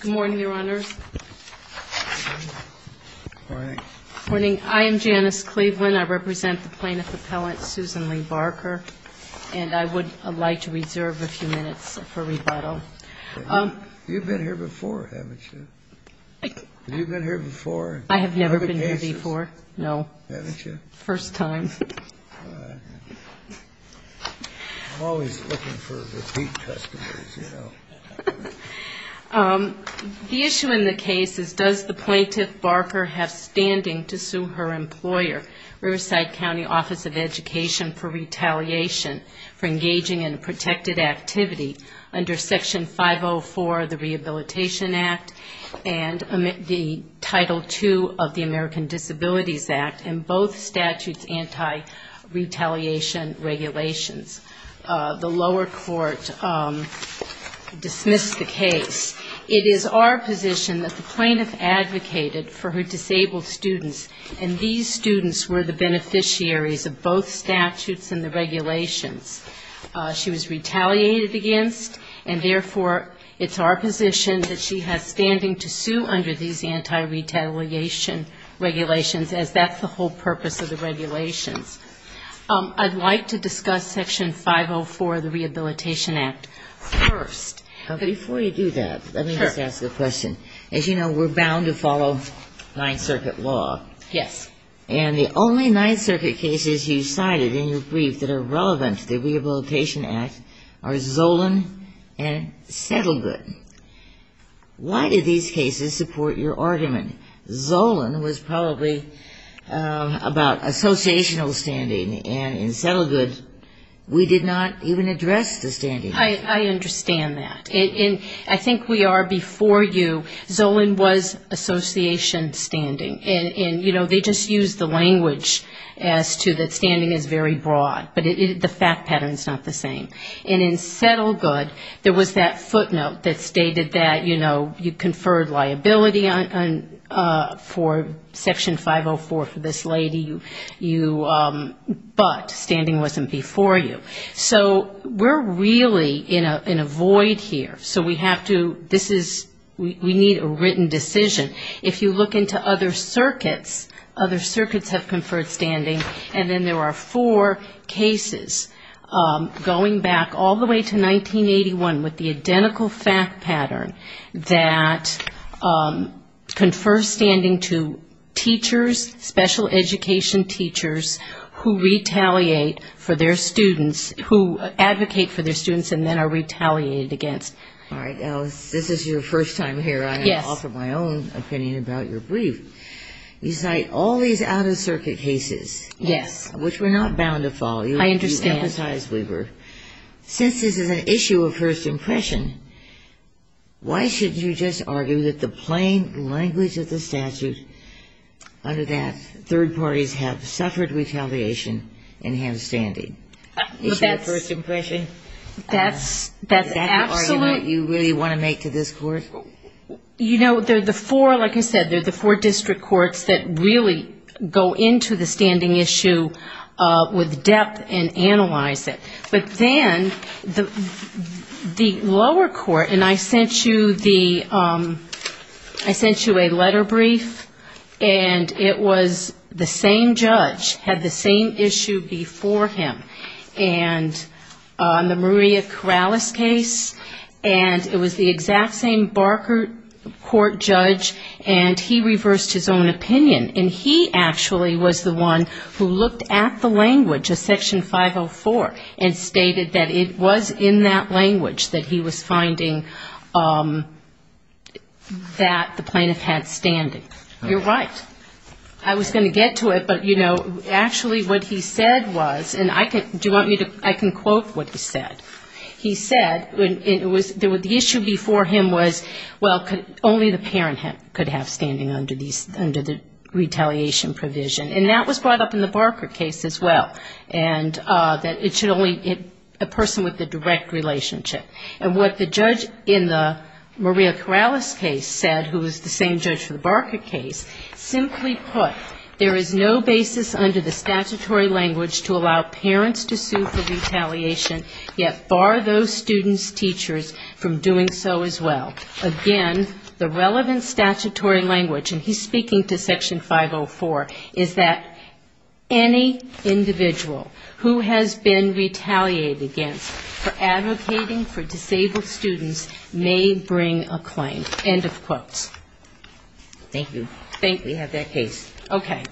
Good morning, Your Honors. Good morning. Good morning. I am Janice Cleveland. I represent the plaintiff appellant, Susan Lee Barker, and I would like to reserve a few minutes for rebuttal. You've been here before, haven't you? You've been here before? I have never been here before, no. Haven't you? First time. I'm always looking for repeat customers, you know. The issue in the case is does the plaintiff, Barker, have standing to sue her employer, Riverside County Office of Education, for retaliation for engaging in a protected activity under Section 504 of the Rehabilitation Act and Title II of the American Disabilities Act and both statutes' anti-retaliation regulations. The lower court dismissed the case. It is our position that the plaintiff advocated for her disabled students, and these students were the beneficiaries of both statutes and the regulations. She was retaliated against, and, therefore, it's our position that she has standing to sue under these anti-retaliation regulations, as that's the whole purpose of the regulations. I'd like to discuss Section 504 of the Rehabilitation Act first. Before you do that, let me just ask a question. As you know, we're bound to follow Ninth Circuit law. Yes. And the only Ninth Circuit cases you cited in your brief that are relevant to the Rehabilitation Act are Zolan and Settlegood. Why did these cases support your argument? Zolan was probably about associational standing, and in Settlegood, we did not even address the standing. I understand that. I think we are before you. Zolan was association standing, and they just used the language as to that standing is very broad, but the fact pattern is not the same. And in Settlegood, there was that footnote that stated that, you know, you conferred liability for Section 504 for this lady, but standing wasn't before you. So we're really in a void here. So we have to, this is, we need a written decision. If you look into other circuits, other circuits have conferred standing, and then there are four cases, going back all the way to 1981, with the identical fact pattern that confer standing to teachers, special education teachers, who retaliate for their students, who advocate for their students, and then are retaliated against. All right, Alice, this is your first time here. I'm going to offer my own opinion about your brief. You cite all these out-of-circuit cases. Yes. Which we're not bound to follow. I understand. You emphasize we were. Since this is an issue of first impression, why shouldn't you just argue that the plain language of the statute under that, first impression, is that the argument you really want to make to this court? You know, they're the four, like I said, they're the four district courts that really go into the standing issue with depth and analyze it. But then the lower court, and I sent you the, I sent you a letter brief, and it was the same judge, had the same issue before him. And the Maria Corrales case, and it was the exact same Barker court judge, and he reversed his own opinion. And he actually was the one who looked at the language of Section 504 and stated that it was in that language that he was finding that the plaintiff had standing. You're right. I was going to get to it, but, you know, actually what he said was, and I can, do you want me to, I can quote what he said. He said, it was, the issue before him was, well, only the parent could have standing under these, under the retaliation provision. And that was brought up in the Barker case as well, and that it should only, a person with a direct relationship. And what the judge in the Maria Corrales case said, who was the same judge for the Barker case, simply put, there is no basis under the statutory language to allow parents to sue for retaliation, yet bar those students' teachers from doing so as well. Again, the relevant statutory language, and he's speaking to Section 504, is that any individual who has been retaliated against for advocating for disabled students may bring a claim. End of quotes. Thank you. Thank you. We have that case. Okay.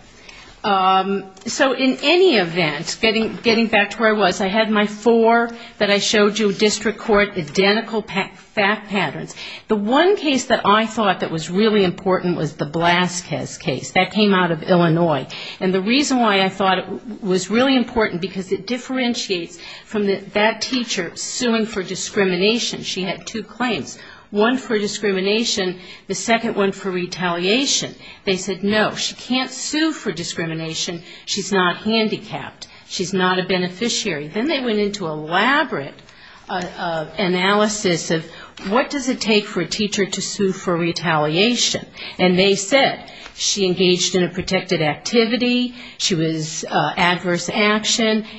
So in any event, getting back to where I was, I had my four that I showed you, district court, identical fact patterns. The one case that I thought that was really important was the Blaskes case. That came out of Illinois. And the reason why I thought it was really important, because it differentiates from that teacher suing for discrimination. She had two claims, one for discrimination, the second one for retaliation. They said, no, she can't sue for discrimination. She's not handicapped. She's not a beneficiary. Then they went into elaborate analysis of what does it take for a teacher to sue for retaliation. And they said she engaged in a violation,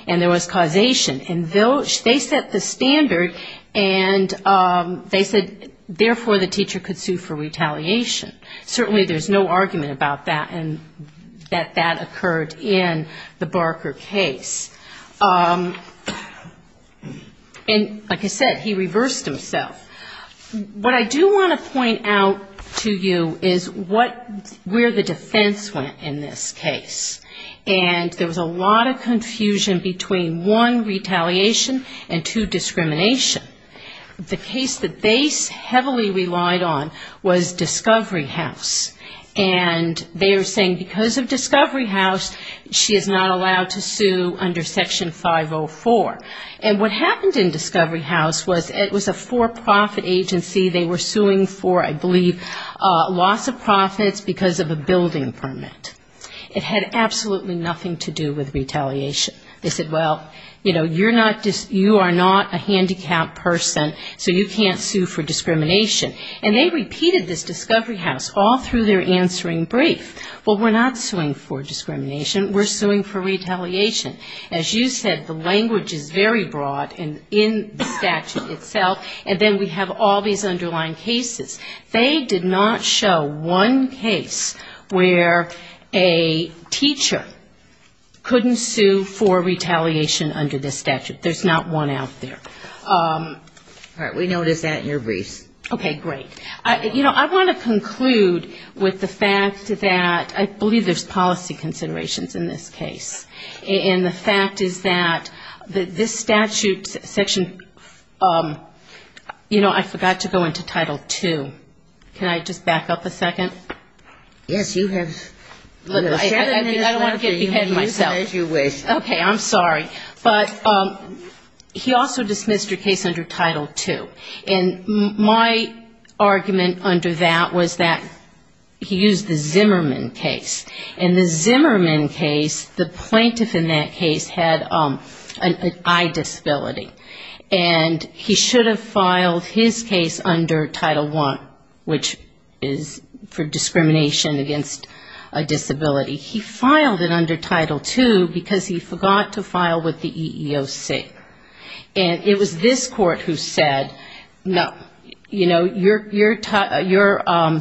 and there was causation. And they set the standard, and they said, therefore, the teacher could sue for retaliation. Certainly there's no argument about that, and that that occurred in the Barker case. And like I said, he reversed himself. What I do want to point out to you is what, where the defense went in this case. And there was a lot of confusion about the distinction between one, retaliation, and two, discrimination. The case that they heavily relied on was Discovery House. And they are saying because of Discovery House, she is not allowed to sue under Section 504. And what happened in Discovery House was it was a for-profit agency. They were suing for, I believe, loss of profits because of a building permit. It had absolutely nothing to do with retaliation. And they said, well, you know, you are not a handicapped person, so you can't sue for discrimination. And they repeated this Discovery House all through their answering brief. Well, we're not suing for discrimination. We're suing for retaliation. As you said, the language is very broad in the statute itself, and then we have all these underlying cases. They did not show one case where a teacher couldn't sue for retaliation. There's not one out there. All right. We noticed that in your briefs. Okay. Great. You know, I want to conclude with the fact that I believe there's policy considerations in this case. And the fact is that this statute section, you know, I forgot to go into Title II. Can I just back up a second? Yes, you have seven minutes left. Okay. I'm sorry. But he also dismissed your case under Title II. And my argument under that was that he used the Zimmerman case. And the Zimmerman case, the plaintiff in that case had an eye disability. And he should have filed his case under Title I, which is for discrimination. Discrimination against a disability. He filed it under Title II because he forgot to file with the EEOC. And it was this court who said, no, you know, your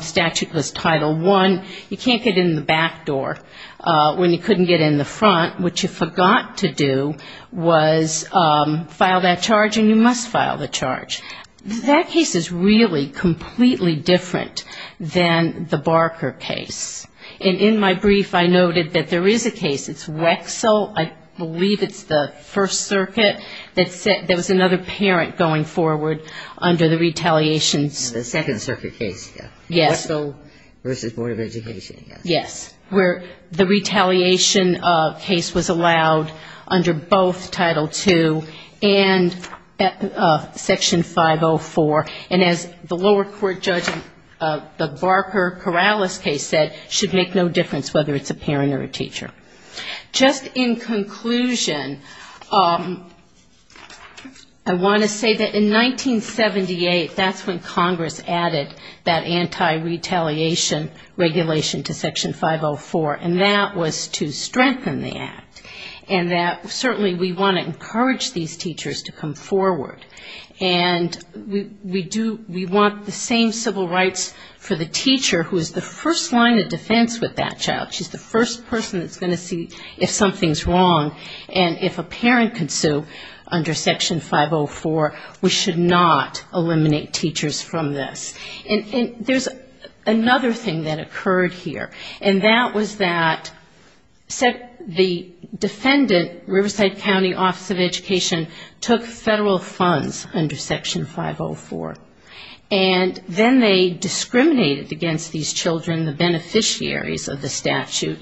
statute was Title I. You can't get in the back door when you couldn't get in the front. What you forgot to do was file that charge, and you must file the charge. That case is really completely different than the Barker case. And in my brief, I noted that there is a case, it's Wexel, I believe it's the First Circuit, that said there was another parent going forward under the retaliations. The Second Circuit case, yes. Wexel versus Board of Education. Yes. Where the retaliation case was allowed under both Title II and Section 504. And as the lower court judge in the Barker-Corrales case said, should make no difference whether it's a parent or a teacher. Just in conclusion, I want to say that in 1978, that's when Congress added that anti-retaliation clause. Anti-retaliation regulation to Section 504, and that was to strengthen the act. And that certainly we want to encourage these teachers to come forward. And we do, we want the same civil rights for the teacher who is the first line of defense with that child. She's the first person that's going to see if something's wrong. And if a parent can sue under Section 504, we should not eliminate teachers from this. And there's another thing that occurred here. And that was that the defendant, Riverside County Office of Education, took federal funds under Section 504. And then they discriminated against these children, the beneficiaries of the statute.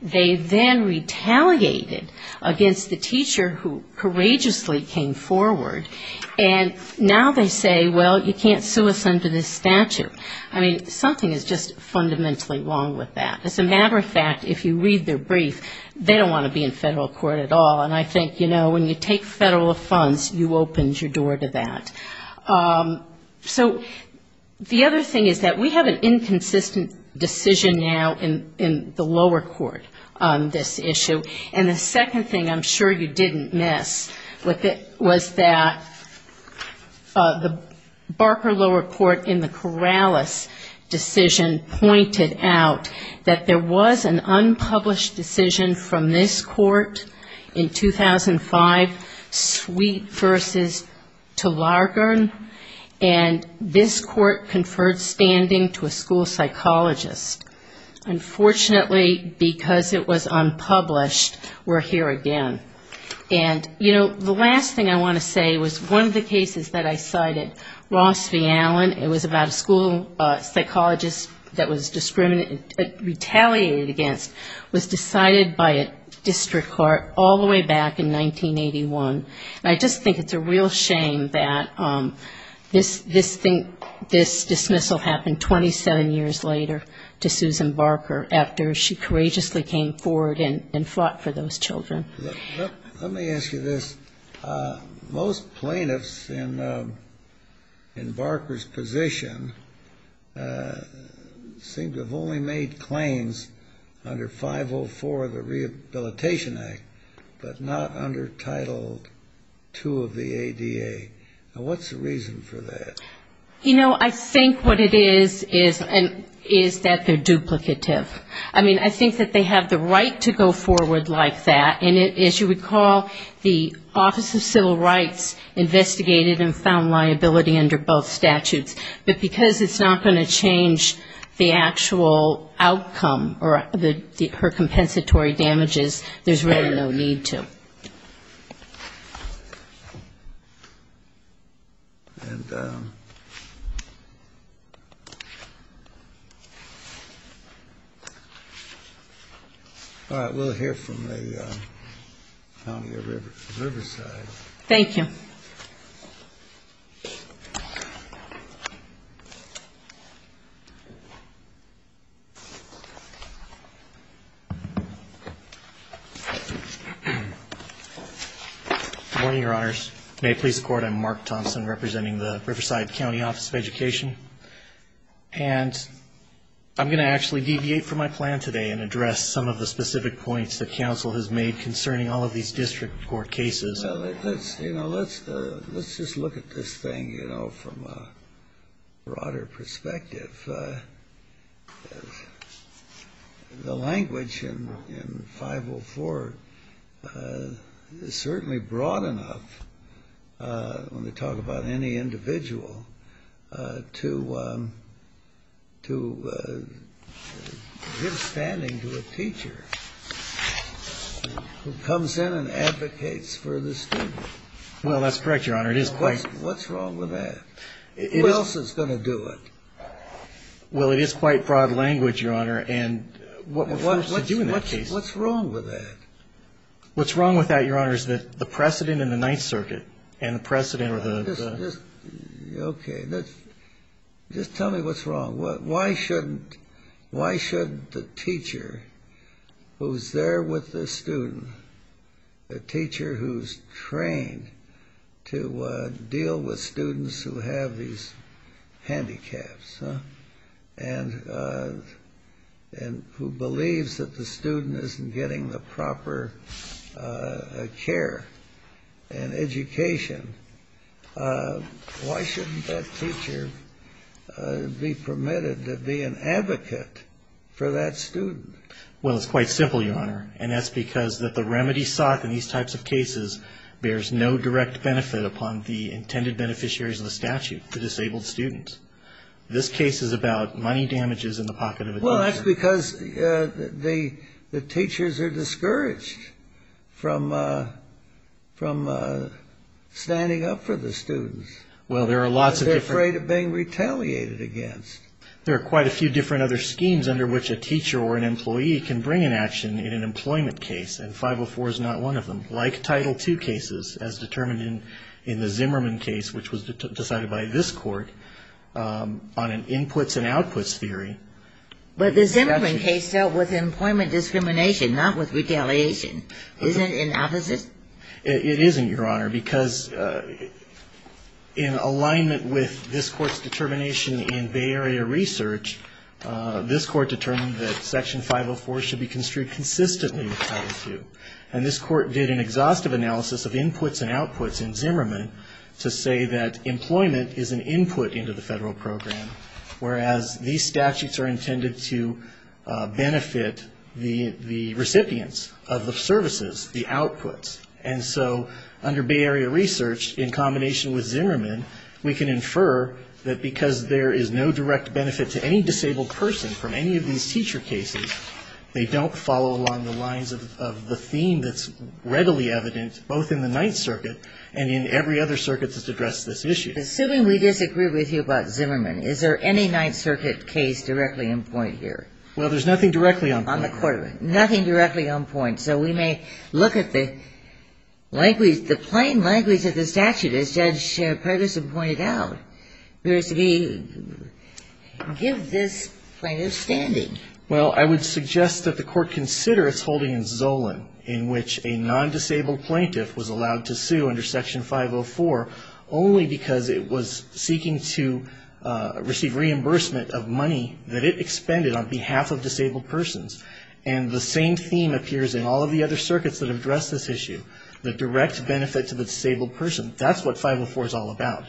They then retaliated against the teacher who courageously came forward. And now they say, well, you can't sue us under this statute. I mean, something is just fundamentally wrong with that. As a matter of fact, if you read their brief, they don't want to be in federal court at all. And I think, you know, when you take federal funds, you opened your door to that. So the other thing is that we have an inconsistent decision now in the lower court on this issue. And the second thing I'm sure you didn't miss was that the Barker lower court in the Corrales decision pointed out that there was an unpublished decision from this court in 2005, Sweet v. Talagern. And this court conferred standing to a school psychologist. Unfortunately, because it was unpublished, we're here again. And, you know, the last thing I want to say was one of the cases that I cited, Ross v. Allen, it was about a school psychologist that was retaliated against, was decided by a district court all the way back in 1981. And I just think it's a real shame that this dismissal happened 27 years later to a school psychologist. It's a real shame to Susan Barker after she courageously came forward and fought for those children. Let me ask you this. Most plaintiffs in Barker's position seem to have only made claims under 504 of the Rehabilitation Act, but not under Title II of the ADA. Now, what's the reason for that? I mean, I think that they have the right to go forward like that, and as you recall, the Office of Civil Rights investigated and found liability under both statutes, but because it's not going to change the actual outcome or her compensatory damages, there's really no need to. All right, we'll hear from the county of Riverside. Thank you. Good morning, Your Honors. May it please the Court, I'm Mark Thompson representing the Riverside County Office of Education. And I'm going to actually deviate from my plan today and address some of the specific points that counsel has made concerning all of these district court cases. Well, you know, let's just look at this thing, you know, from a broader perspective. The language in 504 is certainly broad enough, when we talk about any individual, to say that there is no liability under Title II of the ADA. I mean, there's no reason to give standing to a teacher who comes in and advocates for the student. Well, that's correct, Your Honor, it is quite... What's wrong with that? Who else is going to do it? Well, it is quite broad language, Your Honor, and what we're forced to do in that case... Well, what's wrong with that? What's wrong with that, Your Honor, is that the precedent in the Ninth Circuit and the precedent... Okay, just tell me what's wrong. Why shouldn't the teacher who's there with the student, the teacher who's trained to deal with students who have these handicaps, and who believes that the student isn't getting the proper care and education, why shouldn't that teacher be permitted to be an advocate for that student? Well, it's quite simple, Your Honor, and that's because the remedy sought in these types of cases bears no direct benefit upon the intended beneficiaries of the statute, the disabled students. And this case is about money damages in the pocket of a teacher. Well, that's because the teachers are discouraged from standing up for the students. They're afraid of being retaliated against. There are quite a few different other schemes under which a teacher or an employee can bring an action in an employment case, and 504 is not one of them, like Title II cases, as determined in the Zimmerman case, which was decided by this Court on an inputs and outputs theory. But the Zimmerman case dealt with employment discrimination, not with retaliation. Isn't it the opposite? It isn't, Your Honor, because in alignment with this Court's determination in Bay Area Research, this Court determined that Section 504 should be construed consistently with Title II. And this Court did an exhaustive analysis of inputs and outputs in Zimmerman to say that employment is an input into the federal program, whereas these statutes are intended to benefit the recipients of the services, the outputs. And so under Bay Area Research, in combination with Zimmerman, we can infer that because there is no direct benefit to any disabled person from any of these teacher cases, they don't follow along the lines of the theme that's readily evident, both in the Ninth Circuit and in every other circuit that's addressed this issue. Assuming we disagree with you about Zimmerman, is there any Ninth Circuit case directly in point here? Well, there's nothing directly on point. Nothing directly on point. So we may look at the plain language of the statute, as Judge Pregerson pointed out. Give this plaintiff standing. Well, I would suggest that the Court consider its holding in Zolan, in which a non-disabled plaintiff was allowed to sue under Section 504 only because it was seeking to receive reimbursement of money that it expended on behalf of disabled persons. And the same theme appears in all of the other circuits that address this issue, the direct benefit to the disabled person. That's what 504 is all about.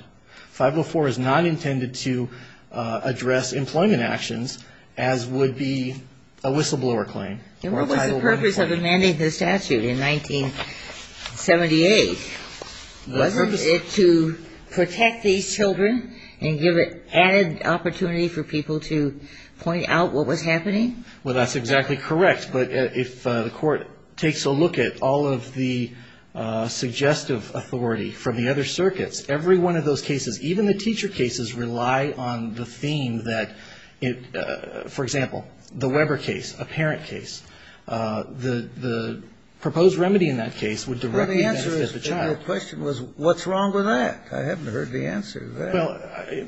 504 is not intended to address employment actions, as would be a whistleblower claim. And what was the purpose of amending the statute in 1978? Wasn't it to protect these children and give it added opportunity for people to point out what was happening? Well, that's exactly correct. But if the Court takes a look at all of the suggestive authority from the other circuits, every one of those circuits is subject to a whistleblower claim. And in all of those cases, even the teacher cases rely on the theme that, for example, the Weber case, a parent case. The proposed remedy in that case would directly benefit the child. Well, the answer to your question was, what's wrong with that? I haven't heard the answer to that. Well,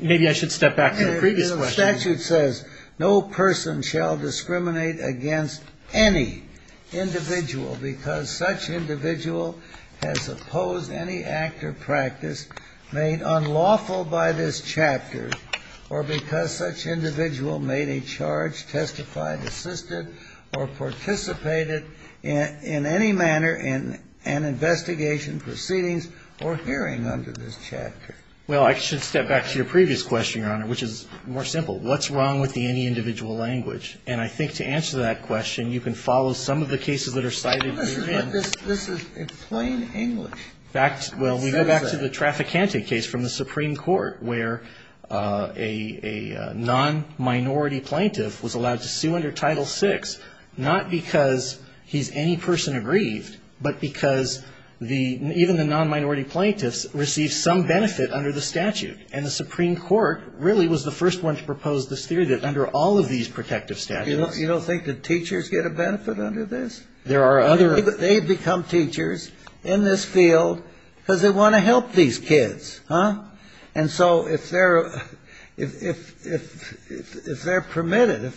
maybe I should step back to the previous question. The statute says no person shall discriminate against any individual because such individual has opposed any act or practice made unlawful by this chapter or because such individual made a charge, testified, assisted or participated in any manner in an investigation, proceedings or hearing under this chapter. Well, I should step back to your previous question, Your Honor, which is more simple. What's wrong with the any individual language? And I think to answer that question, you can follow some of the cases that are cited. This is plain English. Well, we go back to the Trafficante case from the Supreme Court where a non-minority plaintiff was allowed to sue under Title VI, not because he's any person aggrieved, but because the, even the non-minority plaintiffs received some benefit under the statute. And the Supreme Court really was the first one to propose this theory that under all of these protective statutes. You don't think that teachers get a benefit under this? They become teachers in this field because they want to help these kids, huh? And so if they're, if they're permitted,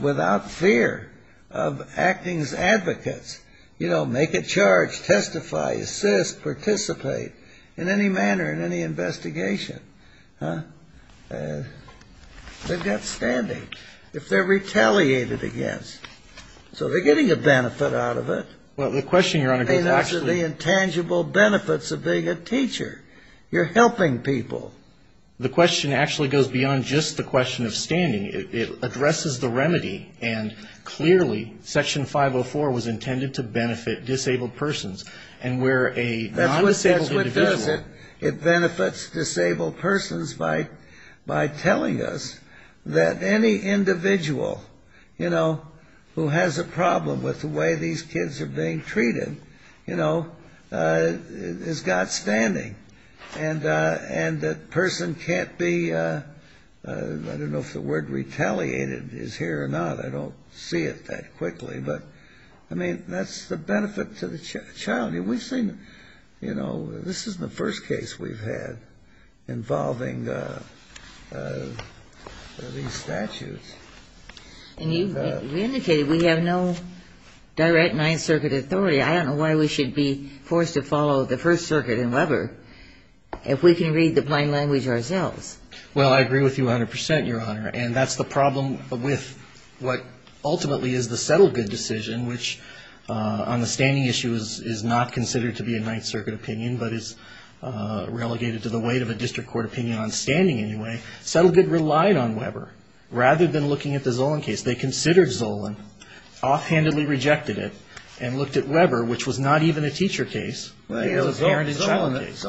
without fear of acting as advocates, you know, make a charge, testify, assist, participate in any manner in any investigation, huh? They've got standing. If they're retaliated against, so they're getting a benefit out of it. And that's the intangible benefits of being a teacher. You're helping people. So the question actually goes beyond just the question of standing. It addresses the remedy, and clearly Section 504 was intended to benefit disabled persons. And where a non-disabled individual. That's what does it. It benefits disabled persons by telling us that any individual, you know, who has a problem with the way these kids are being treated, you know, is got standing. And that person can't be, I don't know if the word retaliated is here or not. I don't see it that quickly. But, I mean, that's the benefit to the child. We've seen, you know, this isn't the first case we've had involving these statutes. And you've indicated we have no direct Ninth Circuit authority. I don't know why we should be forced to follow the First Circuit in Weber if we can read the plain language ourselves. Well, I agree with you 100%, Your Honor. And that's the problem with what ultimately is the settled good decision, which on the standing issue is not considered to be a Ninth Circuit opinion, but is relegated to the weight of a district court opinion on standing anyway. Settled good relied on Weber rather than looking at the Zolan case. They considered Zolan, offhandedly rejected it, and looked at Weber, which was not even a teacher case. It was a parent and child case.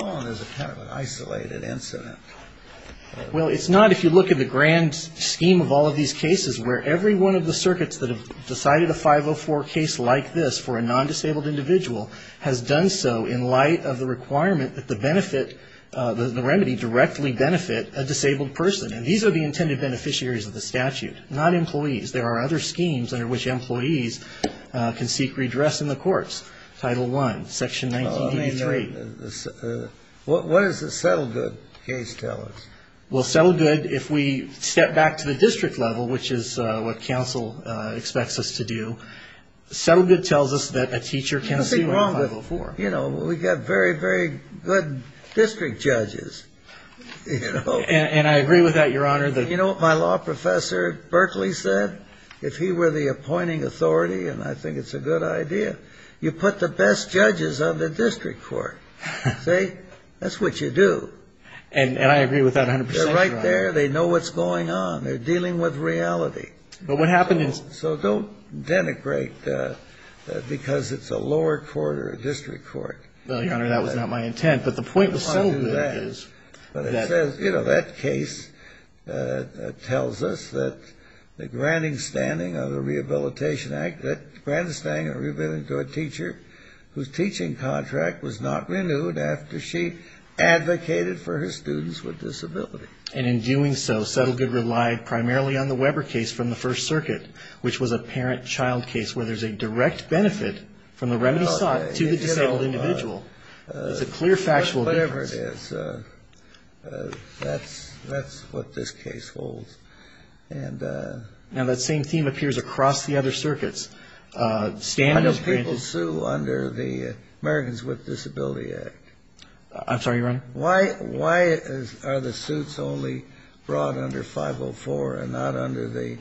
Well, it's not if you look at the grand scheme of all of these cases where every one of the circuits that have decided a 504 case like this for a non-disabled individual has done so in light of the requirement that the benefit, the remedy directly benefit a disabled person. And these are the intended beneficiaries of the statute, not employees. There are other schemes under which employees can seek redress in the courts, Title I, Section 1983. What does the settled good case tell us? Well, settled good, if we step back to the district level, which is what counsel expects us to do, settled good tells us that a teacher can see what a 504. You know, we've got very, very good district judges. And I agree with that, Your Honor. You know what my law professor, Berkeley, said? If he were the appointing authority, and I think it's a good idea, you put the best judges on the district court. See? That's what you do. And I agree with that 100%. They're right there. They know what's going on. They're dealing with reality. So don't denigrate because it's a lower court or a district court. Well, Your Honor, that was not my intent, but the point of settled good is... But it says, you know, that case tells us that the granting standing of the Rehabilitation Act, that granted standing of rehabilitation to a teacher whose teaching contract was not renewed after she advocated for her students with disability. And in doing so, settled good relied primarily on the Weber case from the First Circuit, which was a parent-child case where there's a direct benefit from the remedy sought to the disabled individual. It's a clear factual difference. Whatever it is, that's what this case holds. Now, that same theme appears across the other circuits. I know people sue under the Americans with Disability Act. I'm sorry, Your Honor. Why are the suits only brought under 504 and not under the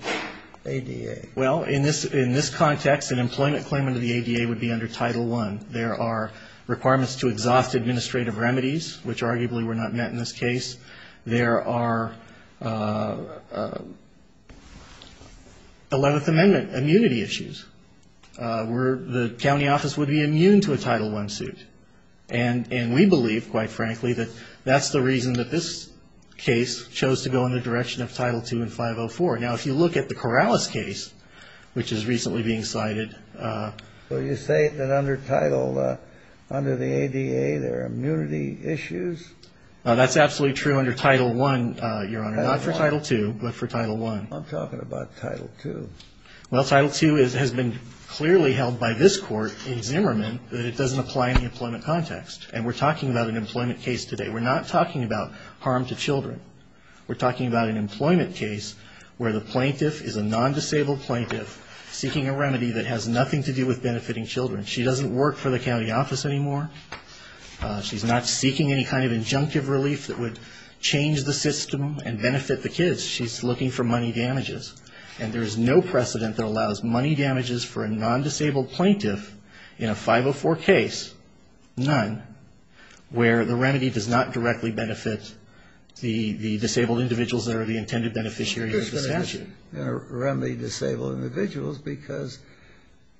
ADA? Well, in this context, an employment claim under the ADA would be under Title I. There are requirements to exhaust administrative remedies, which arguably were not met in this case. There are Eleventh Amendment immunity issues where the county office would be immune to a Title I suit. And we believe, quite frankly, that that's the reason that this case chose to go in the direction of Title II and 504. Now, if you look at the Corrales case, which is recently being cited. Well, you say that under Title, under the ADA, there are immunity issues? That's absolutely true under Title I, Your Honor, not for Title II, but for Title I. I'm talking about Title II. Well, Title II has been clearly held by this Court in Zimmerman that it doesn't apply in the employment context. And we're talking about an employment case today. We're not talking about harm to children. We're talking about an employment case where the plaintiff is a non-disabled plaintiff seeking a remedy that has nothing to do with benefiting children. She doesn't work for the county office anymore. She's not seeking any kind of injunctive relief that would change the system and benefit the kids. She's looking for money damages. And there is no precedent that allows money damages for a non-disabled plaintiff in a 504 case, none, where the remedy does not directly benefit the disabled individuals that are the intended beneficiary of the statute. This remedy is going to remedy disabled individuals because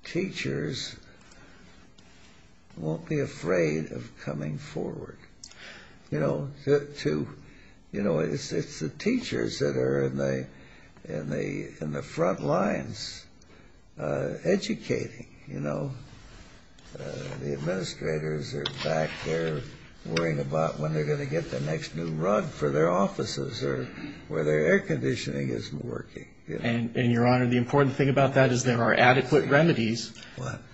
teachers won't be afraid to go to court. They won't be afraid of coming forward. You know, it's the teachers that are in the front lines educating. The administrators are back there worrying about when they're going to get the next new rug for their offices or where their air conditioning isn't working. And, Your Honor, the important thing about that is there are adequate remedies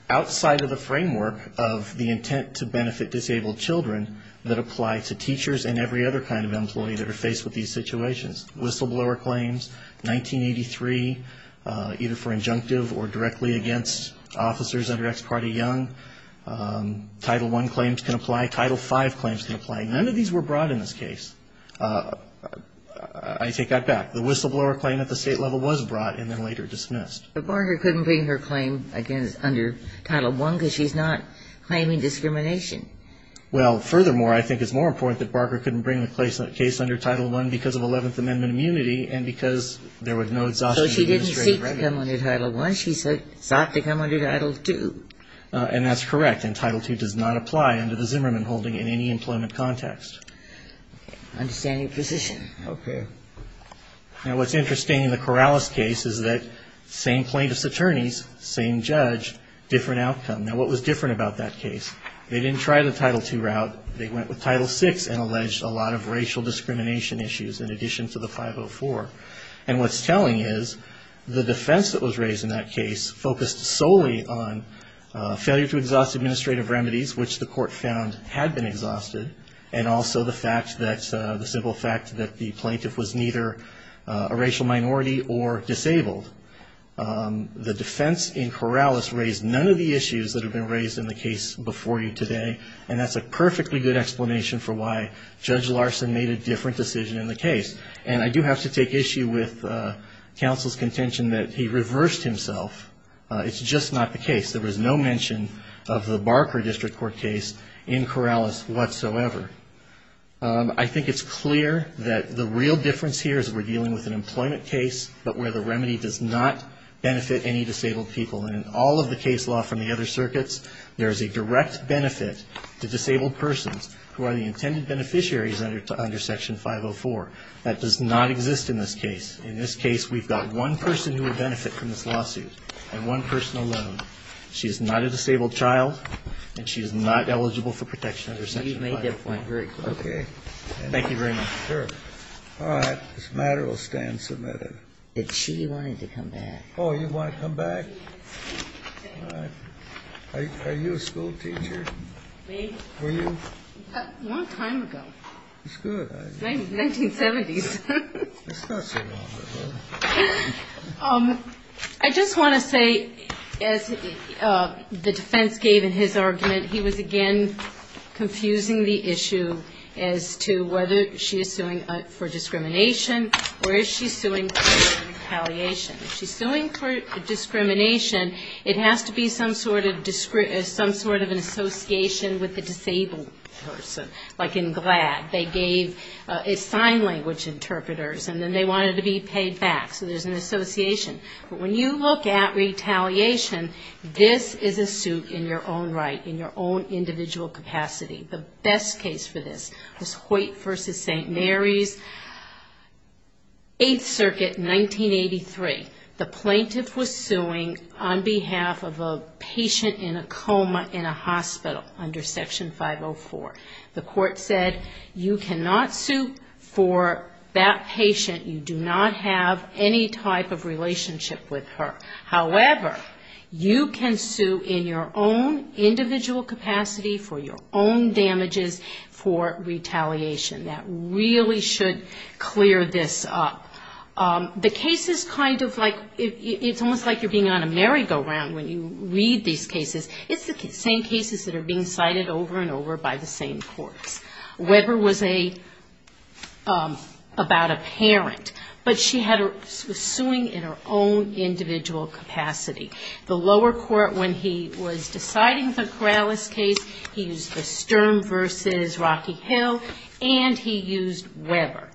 outside of the framework of the intent to benefit children. There are adequate remedies outside of the framework of the intent to benefit disabled children that apply to teachers and every other kind of employee that are faced with these situations. Whistleblower claims, 1983, either for injunctive or directly against officers under Ex parte Young. Title I claims can apply. Title V claims can apply. None of these were brought in this case. I take that back. The whistleblower claim at the state level was brought and then later dismissed. But Barker couldn't bring her claim under Title I because she's not claiming discrimination. Well, furthermore, I think it's more important that Barker couldn't bring the case under Title I because of 11th Amendment immunity and because there was no exhaustion of administrative remedies. So she didn't seek to come under Title I. She sought to come under Title II. And that's correct. And Title II does not apply under the Zimmerman holding in any employment context. Understanding position. Okay. Now, what's interesting in the Corrales case is that same plaintiff's attorneys, same judge, different outcome. Now, what was different about that case? They didn't try the Title II route. They went with Title VI and alleged a lot of racial discrimination issues in addition to the 504. And what's telling is the defense that was raised in that case focused solely on failure to exhaust administrative remedies, which the court found had been exhausted, and also the simple fact that the plaintiff was neither a racial minority or disabled. The defense in Corrales raised none of the issues that have been raised in the case before you today, and that's a perfectly good explanation for why Judge Larson made a different decision in the case. And I do have to take issue with counsel's contention that he reversed himself. It's just not the case. However, I think it's clear that the real difference here is we're dealing with an employment case, but where the remedy does not benefit any disabled people. And in all of the case law from the other circuits, there is a direct benefit to disabled persons who are the intended beneficiaries under Section 504. That does not exist in this case. In this case, we've got one person who would benefit from this lawsuit, and one person alone. She is not a disabled child, and she is not eligible for protection under Section 504. Okay. Thank you very much. Sure. All right. This matter will stand submitted. But she wanted to come back. Oh, you want to come back? Yes. All right. Are you a school teacher? Me. Were you? A long time ago. That's good. 1970s. It's not so long ago. I just want to say, as the defense gave in his argument, he was again confusing the issue as to whether she is suing for discrimination or is she suing for retaliation. If she's suing for discrimination, it has to be some sort of an association with the disabled person, like in GLAD. They gave sign language interpreters, and then they wanted to be paid back, so there's an association. But when you look at retaliation, this is a suit in your own right, in your own individual capacity. The best case for this was Hoyt v. St. Mary's, 8th Circuit, 1983. The plaintiff was suing on behalf of a patient in a coma in a hospital under Section 504. The court said, you cannot sue for that patient. You do not have any type of relationship with her. However, you can sue in your own individual capacity for your own damages for retaliation. That really should clear this up. The case is kind of like, it's almost like you're being on a merry-go-round when you read these cases. It's the same cases that are being cited over and over by the same courts. Weber was about a parent, but she was suing in her own individual capacity. The lower court, when he was deciding the Corrales case, he used the Sturm v. Rocky Hill, and he used Weber.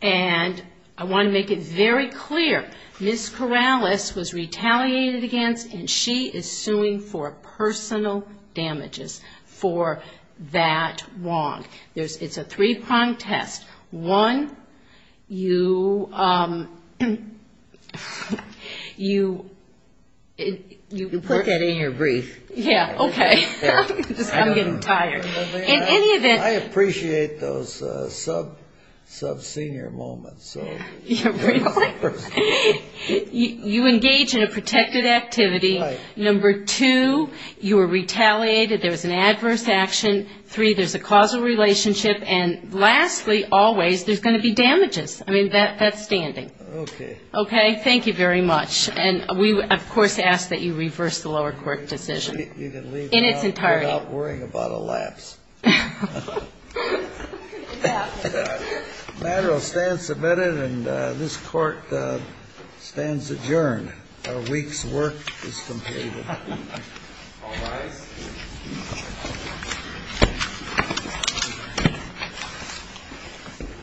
And I want to make it very clear, Ms. Corrales was retaliated against, and she is suing for a perjury. She is suing for personal damages for that wrong. It's a three-pronged test. One, you put that in your brief. I'm getting tired. I appreciate those sub-senior moments. You engage in a protected activity. Number two, you were retaliated, there was an adverse action. Three, there's a causal relationship. And lastly, always, there's going to be damages. I mean, that's standing. Okay, thank you very much. And we, of course, ask that you reverse the lower court decision in its entirety. You can leave now without worrying about a lapse. The matter will stand submitted, and this Court stands adjourned. Our week's work is completed.